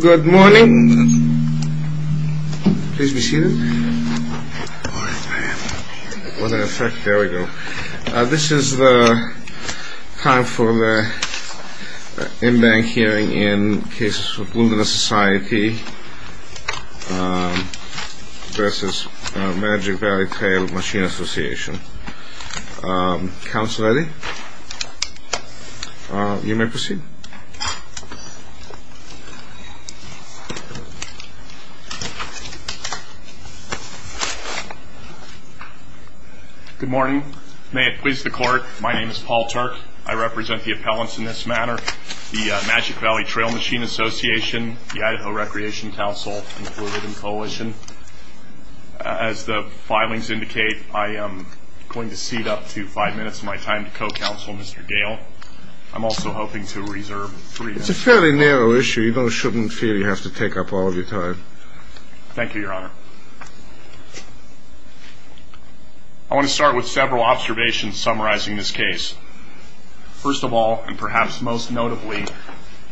Good morning. This is the time for the in-bank hearing in cases of Wilderness Society v. Magic Valley Trail Machine Association. Counsel Eddie, you may proceed. Good morning. May it please the court, my name is Paul Turk. I represent the appellants in this matter, the Magic Valley Trail Machine Association, the Idaho Recreation Council, included in the coalition. As the filings indicate, I am going to cede up to five minutes of my time to co-counsel Mr. Gale. I'm also hoping to reserve three minutes. It's a fairly narrow issue. You shouldn't feel you have to take up all of your time. Thank you, your honor. I want to start with several observations summarizing this case. First of all, and perhaps most notably,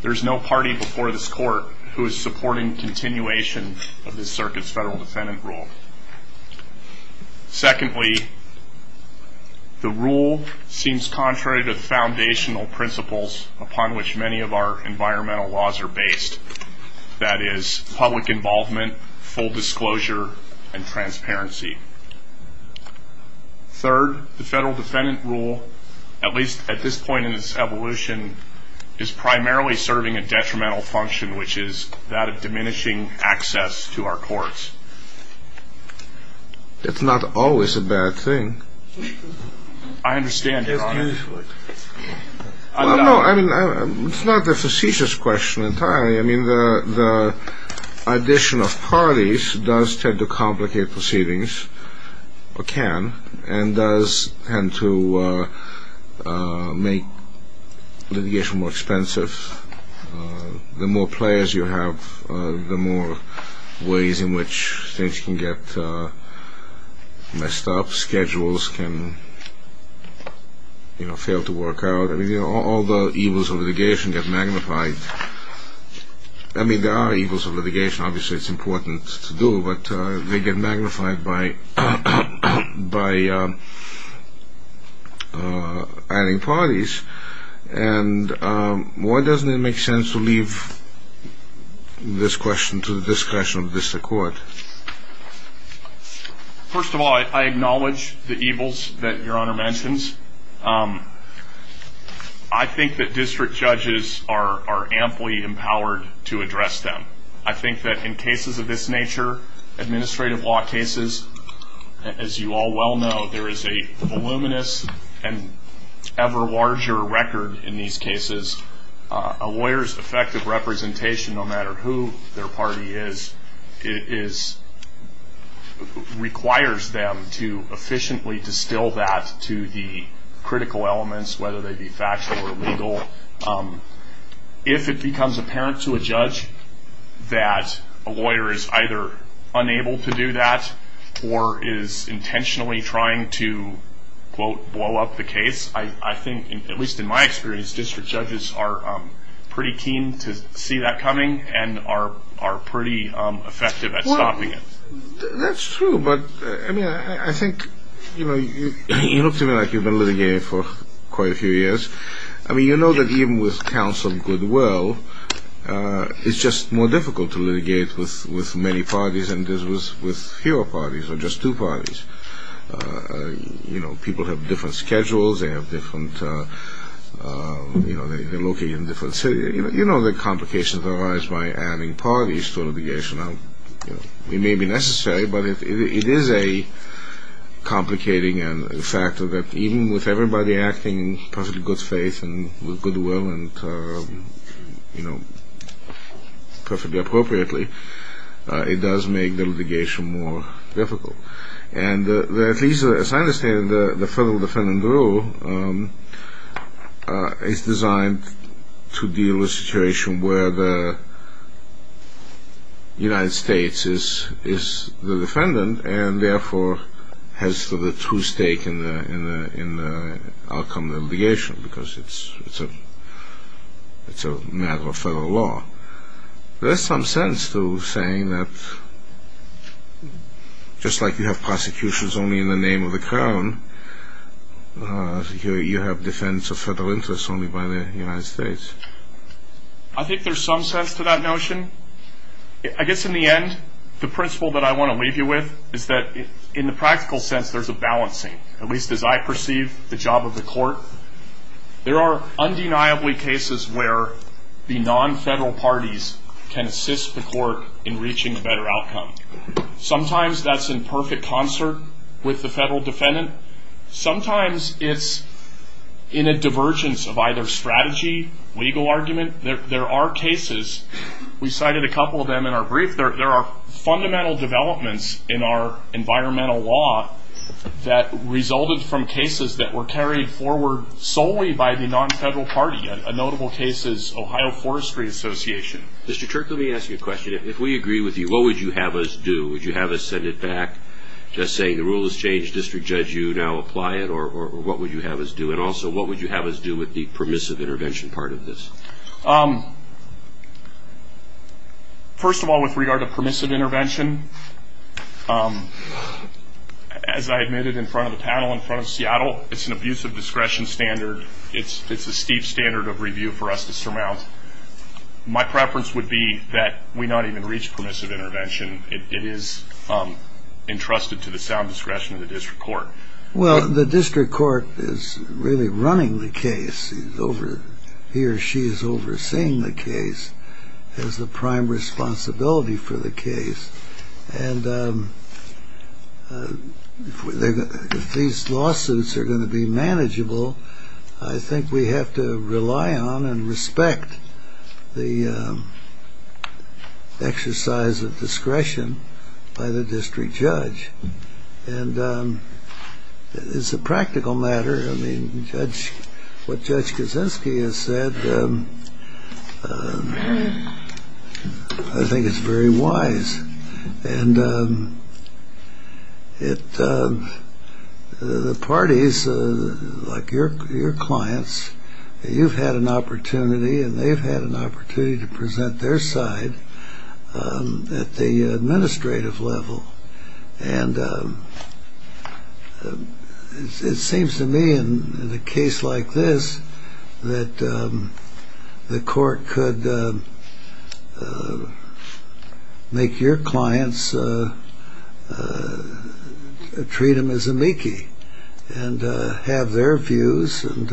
there is no party before this court who is supporting continuation of this circuit's federal defendant rule. Secondly, the rule seems contrary to the foundational principles upon which many of our environmental laws are based, that is, public involvement, full disclosure, and transparency. Third, the federal defendant rule, at least at this point in its evolution, is primarily serving a detrimental function, which is that of diminishing access to our courts. That's not always a bad thing. Well, no, I mean, it's not a facetious question entirely. I mean, the addition of parties does tend to complicate proceedings, or can, and does tend to make litigation more expensive. The more players you have, the more ways in which things can get messed up. Schedules can, you know, fail to work out. I mean, all the evils of litigation get magnified. I mean, there are evils of litigation. Obviously, it's important to do, but they get magnified by adding parties. And why doesn't it make sense to leave this question to the discretion of the district court? First of all, I acknowledge the evils that Your Honor mentions. I think that district judges are amply empowered to address them. I think that in cases of this nature, administrative law cases, as you all well know, there is a voluminous and ever larger record in these cases. A lawyer's effective representation, no matter who their party is, requires them to efficiently distill that to the critical elements, whether they be factual or legal. If it becomes apparent to a judge that a lawyer is either unable to do that or is intentionally trying to, quote, blow up the case, I think, at least in my experience, district judges are pretty keen to see that coming and are pretty effective at stopping it. Well, that's true, but, I mean, I think, you know, you look to me like you've been litigating for quite a few years. I mean, you know that even with counsel goodwill, it's just more difficult to litigate with many parties than it is with fewer parties or just two parties. You know, people have different schedules. They have different, you know, they're located in different cities. You know that complications arise by adding parties to litigation. It may be necessary, but it is a complicating factor that even with everybody acting in perfectly good faith and with goodwill and, you know, perfectly appropriately, it does make the litigation more difficult. And at least as I understand it, the Federal Defendant Rule is designed to deal with a situation where the United States is the defendant and therefore has the true stake in the outcome of the litigation because it's a matter of federal law. So there's some sense to saying that just like you have prosecutions only in the name of the Crown, you have defense of federal interests only by the United States. I think there's some sense to that notion. I guess in the end, the principle that I want to leave you with is that in the practical sense there's a balancing, at least as I perceive the job of the court. There are undeniably cases where the non-federal parties can assist the court in reaching a better outcome. Sometimes that's in perfect concert with the federal defendant. Sometimes it's in a divergence of either strategy, legal argument. There are cases, we cited a couple of them in our brief, there are fundamental developments in our environmental law that resulted from cases that were carried forward solely by the non-federal party. A notable case is Ohio Forestry Association. Mr. Turk, let me ask you a question. If we agree with you, what would you have us do? Would you have us send it back just saying the rule has changed, district judge, you now apply it? Or what would you have us do? And also, what would you have us do with the permissive intervention part of this? First of all, with regard to permissive intervention, as I admitted in front of the panel in front of Seattle, it's an abusive discretion standard. It's a steep standard of review for us to surmount. My preference would be that we not even reach permissive intervention. It is entrusted to the sound discretion of the district court. Well, the district court is really running the case. He or she is overseeing the case as the prime responsibility for the case. And if these lawsuits are going to be manageable, I think we have to rely on and respect the exercise of discretion by the district judge. And it's a practical matter. I mean, what Judge Kaczynski has said, I think it's very wise. And the parties, like your clients, you've had an opportunity, and they've had an opportunity to present their side at the administrative level. And it seems to me in a case like this that the court could make your clients treat them as a meekie and have their views and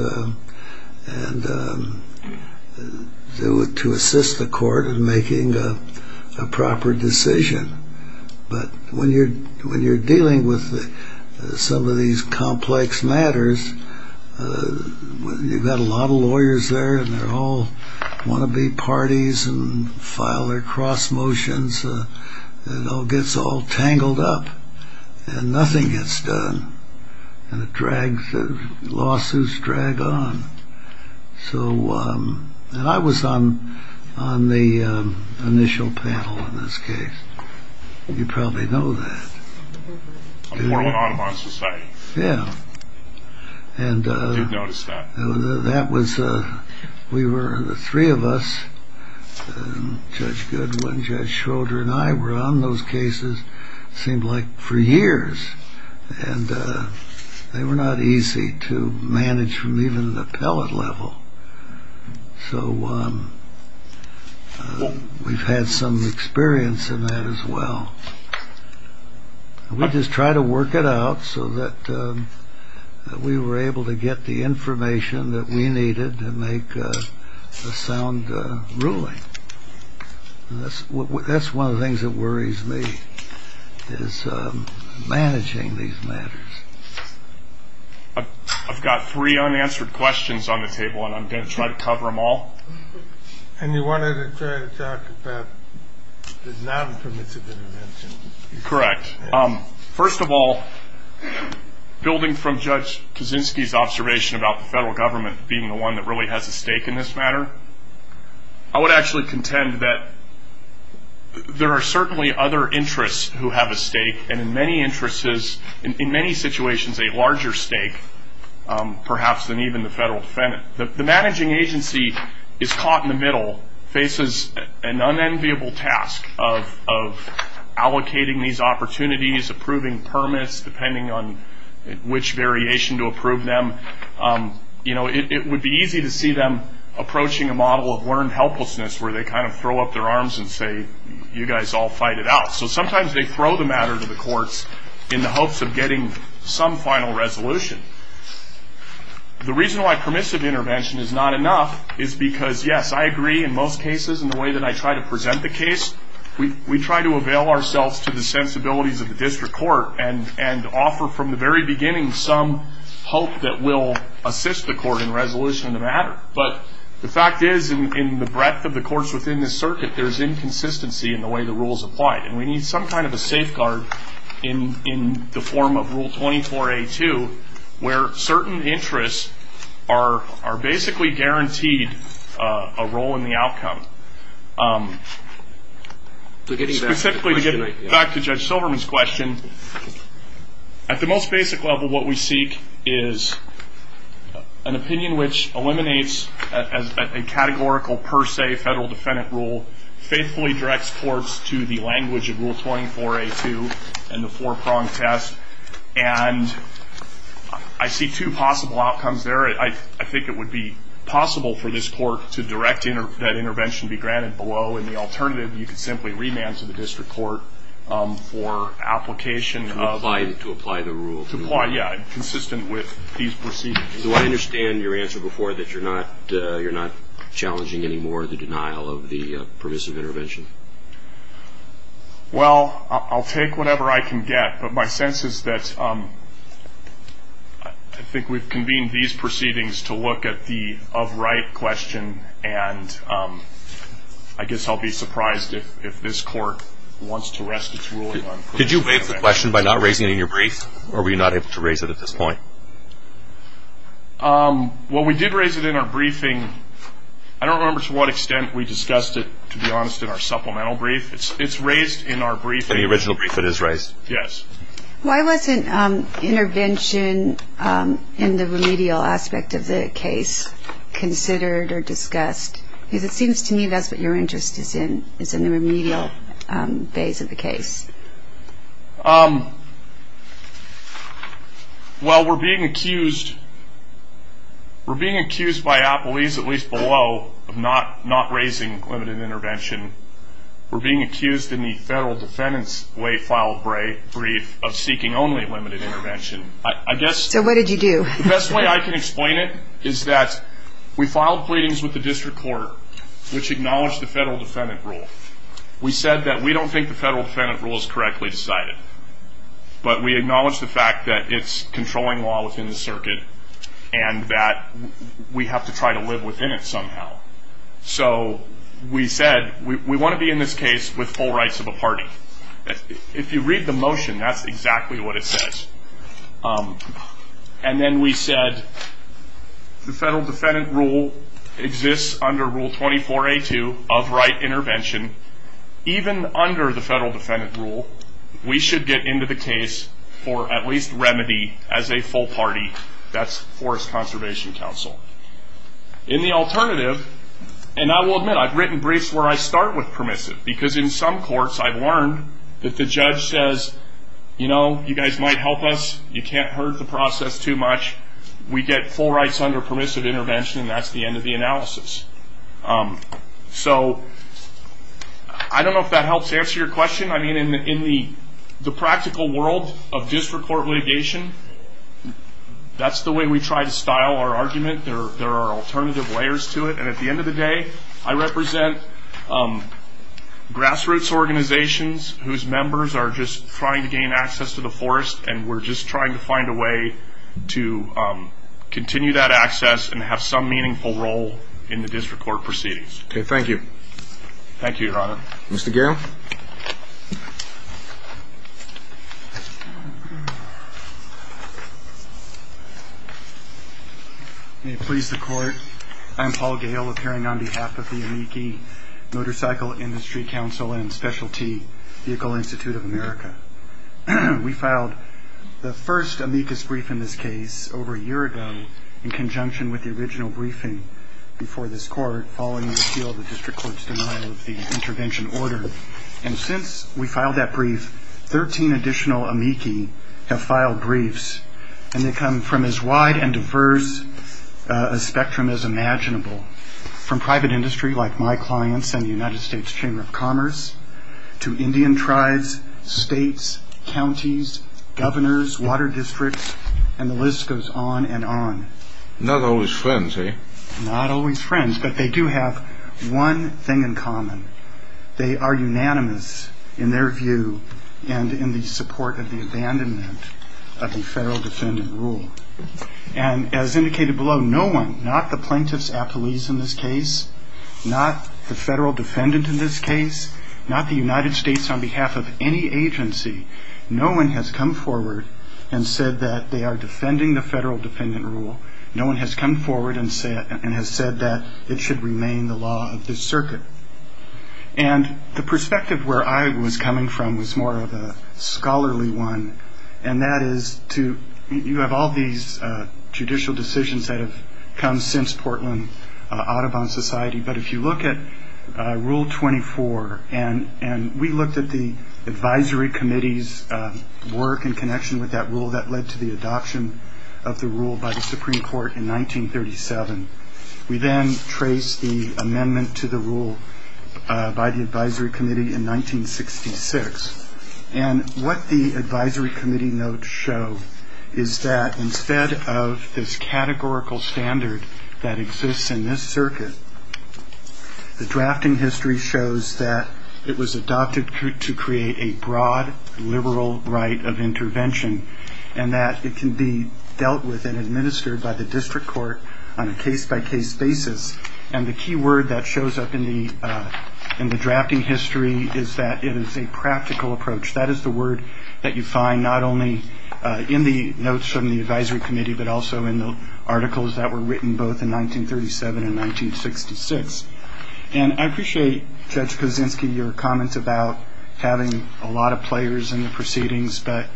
do it to assist the court in making a proper decision. But when you're dealing with some of these complex matters, you've got a lot of lawyers there, and they all want to be parties and file their cross motions. It all gets all tangled up, and nothing gets done. And lawsuits drag on. And I was on the initial panel in this case. You probably know that. The Portland Audubon Society. Yeah. I did notice that. We were the three of us. Judge Goodwin, Judge Schroeder, and I were on those cases, it seemed like, for years. And they were not easy to manage from even the appellate level. So we've had some experience in that as well. We just try to work it out so that we were able to get the information that we needed to make a sound ruling. That's one of the things that worries me is managing these matters. I've got three unanswered questions on the table, and I'm going to try to cover them all. And you wanted to try to talk about the non-permissive intervention. Correct. First of all, building from Judge Kaczynski's observation about the federal government being the one that really has a stake in this matter, I would actually contend that there are certainly other interests who have a stake, and in many situations a larger stake perhaps than even the federal defendant. The managing agency is caught in the middle, faces an unenviable task of allocating these opportunities, approving permits, depending on which variation to approve them. It would be easy to see them approaching a model of learned helplessness where they kind of throw up their arms and say, you guys all fight it out. So sometimes they throw the matter to the courts in the hopes of getting some final resolution. The reason why permissive intervention is not enough is because, yes, I agree in most cases in the way that I try to present the case. We try to avail ourselves to the sensibilities of the district court and offer from the very beginning some hope that we'll assist the court in resolution of the matter. But the fact is, in the breadth of the courts within this circuit, there's inconsistency in the way the rule is applied, and we need some kind of a safeguard in the form of Rule 24a.2 where certain interests are basically guaranteed a role in the outcome. Specifically, to get back to Judge Silverman's question, at the most basic level what we seek is an opinion which eliminates a categorical per se federal defendant rule, faithfully directs courts to the language of Rule 24a.2 and the four-prong test. And I see two possible outcomes there. I think it would be possible for this court to direct that intervention to be granted below, and the alternative, you could simply remand to the district court for application of- To apply the rule. Yeah, consistent with these procedures. Do I understand your answer before that you're not challenging anymore the denial of the permissive intervention? Well, I'll take whatever I can get, but my sense is that I think we've convened these proceedings to look at the of right question, and I guess I'll be surprised if this court wants to rest its ruling on permissive intervention. Did you waive the question by not raising it in your brief, or were you not able to raise it at this point? Well, we did raise it in our briefing. I don't remember to what extent we discussed it, to be honest, in our supplemental brief. It's raised in our briefing. In the original brief, it is raised? Yes. Why wasn't intervention in the remedial aspect of the case considered or discussed? Because it seems to me that's what your interest is in, is in the remedial phase of the case. Well, we're being accused by police, at least below, of not raising limited intervention. We're being accused in the federal defendant's way filed brief of seeking only limited intervention. So what did you do? The best way I can explain it is that we filed pleadings with the district court, which acknowledged the federal defendant rule. We said that we don't think the federal defendant rule is correctly decided, but we acknowledge the fact that it's controlling law within the circuit and that we have to try to live within it somehow. So we said we want to be in this case with full rights of a party. If you read the motion, that's exactly what it says. And then we said the federal defendant rule exists under Rule 24A2 of right intervention. Even under the federal defendant rule, we should get into the case for at least remedy as a full party. That's Forest Conservation Council. In the alternative, and I will admit I've written briefs where I start with permissive, because in some courts I've learned that the judge says, you know, you guys might help us. You can't hurt the process too much. We get full rights under permissive intervention, and that's the end of the analysis. So I don't know if that helps answer your question. I mean, in the practical world of district court litigation, that's the way we try to style our argument. There are alternative layers to it, and at the end of the day, I represent grassroots organizations whose members are just trying to gain access to the forest, and we're just trying to find a way to continue that access and have some meaningful role in the district court proceedings. Okay, thank you. Thank you, Your Honor. Mr. Gale. May it please the Court, I'm Paul Gale, appearing on behalf of the Amici Motorcycle Industry Council and Specialty Vehicle Institute of America. We filed the first amicus brief in this case over a year ago in conjunction with the original briefing before this Court following the appeal of the district court's denial of the intervention order. And since we filed that brief, 13 additional amici have filed briefs, and they come from as wide and diverse a spectrum as imaginable, from private industry like my clients and the United States Chamber of Commerce to Indian tribes, states, counties, governors, water districts, and the list goes on and on. Not always friends, eh? Not always friends, but they do have one thing in common. They are unanimous in their view and in the support of the abandonment of the federal defendant rule. And as indicated below, no one, not the plaintiffs at police in this case, not the federal defendant in this case, not the United States on behalf of any agency, no one has come forward and said that they are defending the federal defendant rule. No one has come forward and has said that it should remain the law of this circuit. And the perspective where I was coming from was more of a scholarly one, and that is you have all these judicial decisions that have come since Portland Audubon Society, but if you look at Rule 24, and we looked at the advisory committee's work in connection with that rule that led to the adoption of the rule by the Supreme Court in 1937, we then traced the amendment to the rule by the advisory committee in 1966. And what the advisory committee notes show is that instead of this categorical standard that exists in this circuit, the drafting history shows that it was adopted to create a broad liberal right of intervention and that it can be dealt with and administered by the district court on a case-by-case basis. And the key word that shows up in the drafting history is that it is a practical approach. That is the word that you find not only in the notes from the advisory committee but also in the articles that were written both in 1937 and 1966. And I appreciate, Judge Kozinski, your comments about having a lot of players in the proceedings, but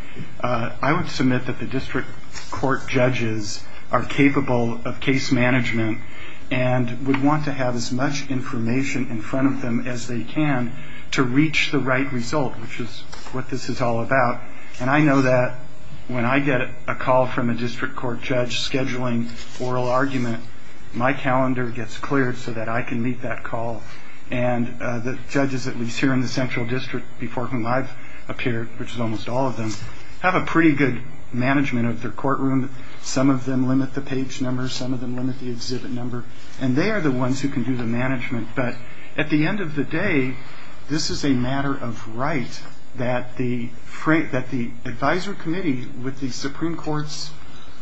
I would submit that the district court judges are capable of case management and would want to have as much information in front of them as they can to reach the right result, which is what this is all about. And I know that when I get a call from a district court judge scheduling oral argument, my calendar gets cleared so that I can meet that call. And the judges, at least here in the Central District, before whom I've appeared, which is almost all of them, have a pretty good management of their courtroom. Some of them limit the page number. Some of them limit the exhibit number. And they are the ones who can do the management. But at the end of the day, this is a matter of right that the advisory committee, with the Supreme Court's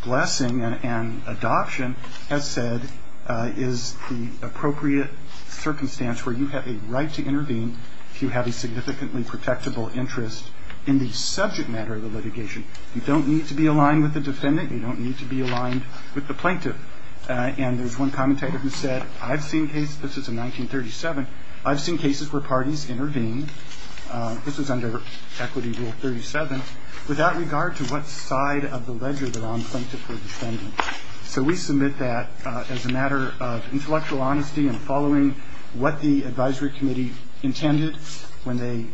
blessing and adoption, has said is the appropriate circumstance where you have a right to intervene if you have a significantly protectable interest in the subject matter of the litigation. You don't need to be aligned with the defendant. You don't need to be aligned with the plaintiff. And there's one commentator who said, I've seen cases, this is in 1937, I've seen cases where parties intervene, this is under Equity Rule 37, without regard to what side of the ledger they're on plaintiff or defendant. So we submit that as a matter of intellectual honesty and following what the advisory committee intended when they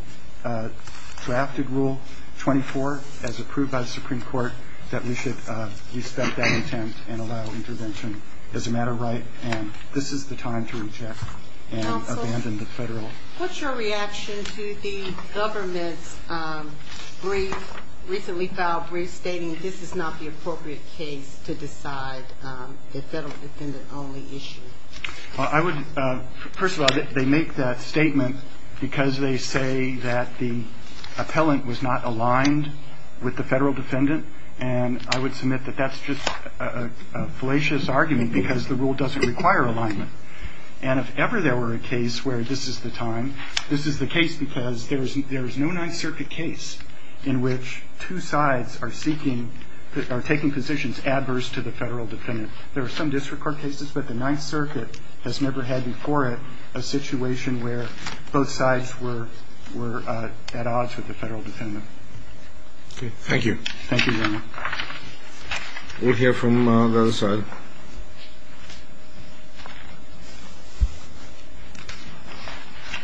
drafted Rule 24 as approved by the Supreme Court that we should respect that intent and allow intervention as a matter of right. And this is the time to reject and abandon the federal. Counsel, what's your reaction to the government's brief, recently filed brief stating this is not the appropriate case to decide the federal defendant only issue? Well, I would, first of all, they make that statement because they say that the appellant was not aligned with the federal defendant. And I would submit that that's just a fallacious argument because the rule doesn't require alignment. And if ever there were a case where this is the time, this is the case because there is no Ninth Circuit case in which two sides are seeking or taking positions adverse to the federal defendant. There are some district court cases, but the Ninth Circuit has never had before it a situation where both sides were at odds with the federal defendant. Okay. Thank you. Thank you, Your Honor. We'll hear from the other side.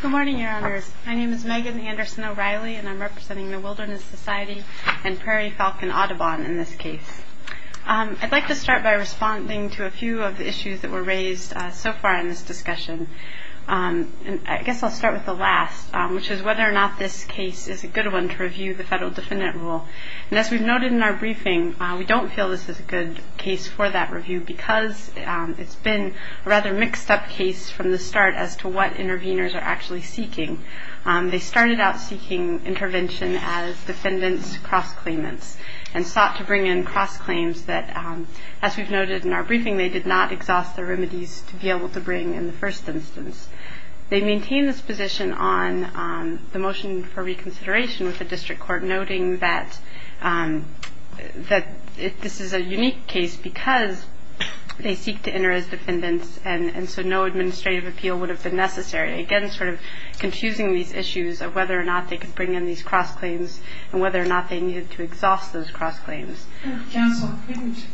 Good morning, Your Honors. My name is Megan Anderson O'Reilly, and I'm representing the Wilderness Society and Prairie Falcon Audubon in this case. I'd like to start by responding to a few of the issues that were raised so far in this discussion. I guess I'll start with the last, which is whether or not this case is a good one to review the federal defendant rule. And as we've noted in our briefing, we don't feel this is a good case for that review because it's been a rather mixed-up case from the start as to what interveners are actually seeking. They started out seeking intervention as defendant's cross-claimants and sought to bring in cross-claims that, as we've noted in our briefing, they did not exhaust their remedies to be able to bring in the first instance. They maintain this position on the motion for reconsideration with the district court, noting that this is a unique case because they seek to enter as defendants and so no administrative appeal would have been necessary, again sort of confusing these issues of whether or not they could bring in these cross-claims and whether or not they needed to exhaust those cross-claims. Counsel, couldn't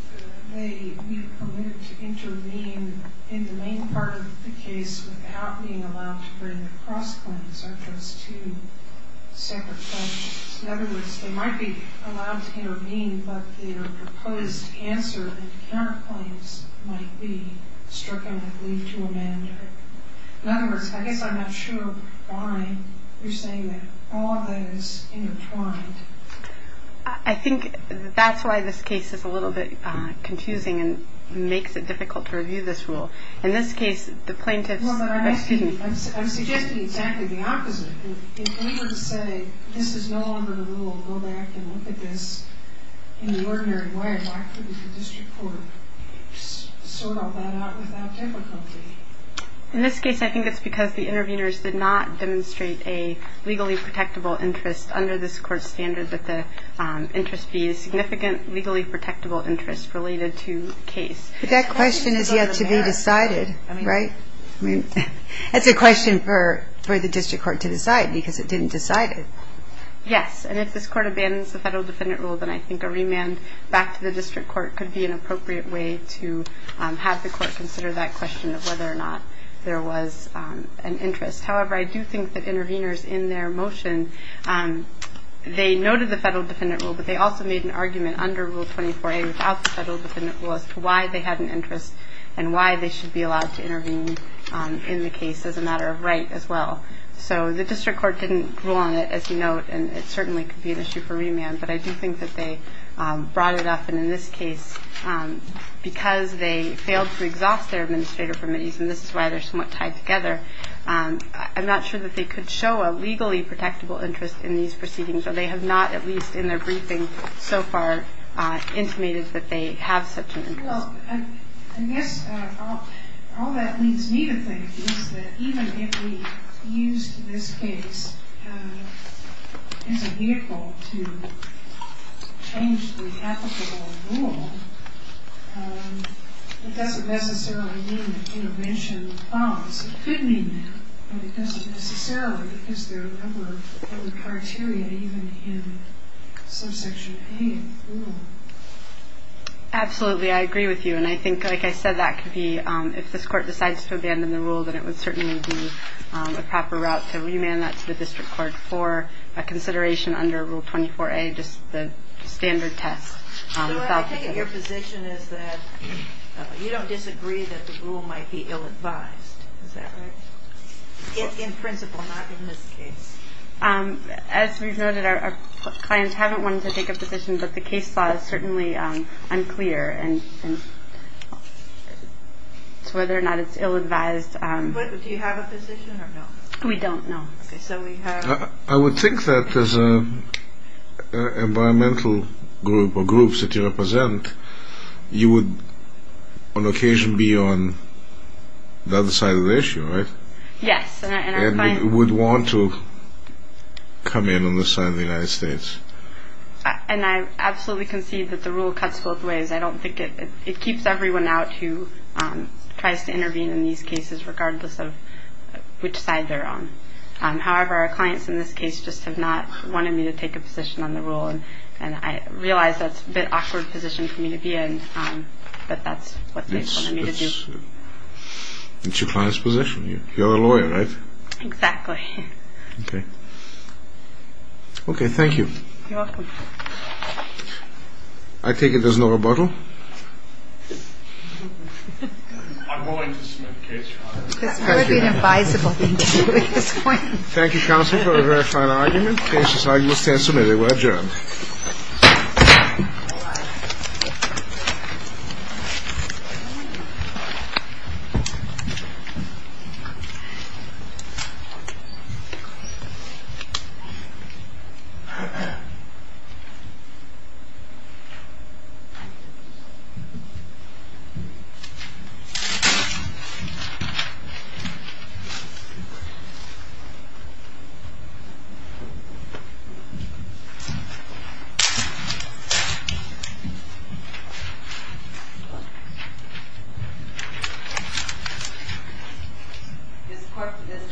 they be permitted to intervene in the main part of the case without being allowed to bring cross-claims, aren't those two separate questions? In other words, they might be allowed to intervene, but their proposed answer and counterclaims might be stricken with leave to amend. In other words, I guess I'm not sure why you're saying that all of that is intertwined. I think that's why this case is a little bit confusing and makes it difficult to review this rule. In this case, the plaintiffs— Well, but I'm suggesting exactly the opposite. If we were to say this is no longer the rule, go back and look at this in the ordinary way, why couldn't the district court sort all that out without difficulty? In this case, I think it's because the interveners did not demonstrate a legally protectable interest under this court's standard that the interest be a significant legally protectable interest related to the case. But that question is yet to be decided, right? That's a question for the district court to decide because it didn't decide it. Yes, and if this court abandons the federal defendant rule, then I think a remand back to the district court could be an appropriate way to have the court consider that question of whether or not there was an interest. However, I do think that interveners in their motion, they noted the federal defendant rule, but they also made an argument under Rule 24a without the federal defendant rule as to why they had an interest and why they should be allowed to intervene in the case as a matter of right as well. So the district court didn't rule on it as a note, and it certainly could be an issue for remand. But I do think that they brought it up. And in this case, because they failed to exhaust their administrative permittees, and this is why they're somewhat tied together, I'm not sure that they could show a legally protectable interest in these proceedings, or they have not at least in their briefing so far intimated that they have such an interest. Well, I guess all that leads me to think is that even if we used this case as a vehicle to change the applicable rule, it doesn't necessarily mean that intervention falls. It could mean that, but it doesn't necessarily because there are other criteria even in subsection A of the rule. Absolutely. I agree with you. And I think, like I said, that could be if this court decides to abandon the rule, then it would certainly be a proper route to remand that to the district court for a consideration under Rule 24A, just the standard test. So I think your position is that you don't disagree that the rule might be ill-advised. Is that right? In principle, not in this case. As we've noted, our clients haven't wanted to take a position, but the case law is certainly unclear as to whether or not it's ill-advised. Do you have a position or no? We don't, no. I would think that as an environmental group or groups that you represent, you would on occasion be on the other side of the issue, right? Yes. And you would want to come in on this side of the United States. And I absolutely concede that the rule cuts both ways. I don't think it keeps everyone out who tries to intervene in these cases regardless of which side they're on. However, our clients in this case just have not wanted me to take a position on the rule, and I realize that's a bit of an awkward position for me to be in, but that's what they've wanted me to do. It's your client's position. You're a lawyer, right? Exactly. Okay. Okay, thank you. You're welcome. I take it there's no rebuttal? I'm willing to submit a case, Your Honor. That would be an advisable thing to do at this point. Thank you, counsel, for a very fine argument. Case is now in the stand submitted. We're adjourned. Thank you. This court, for this session, stands adjourned.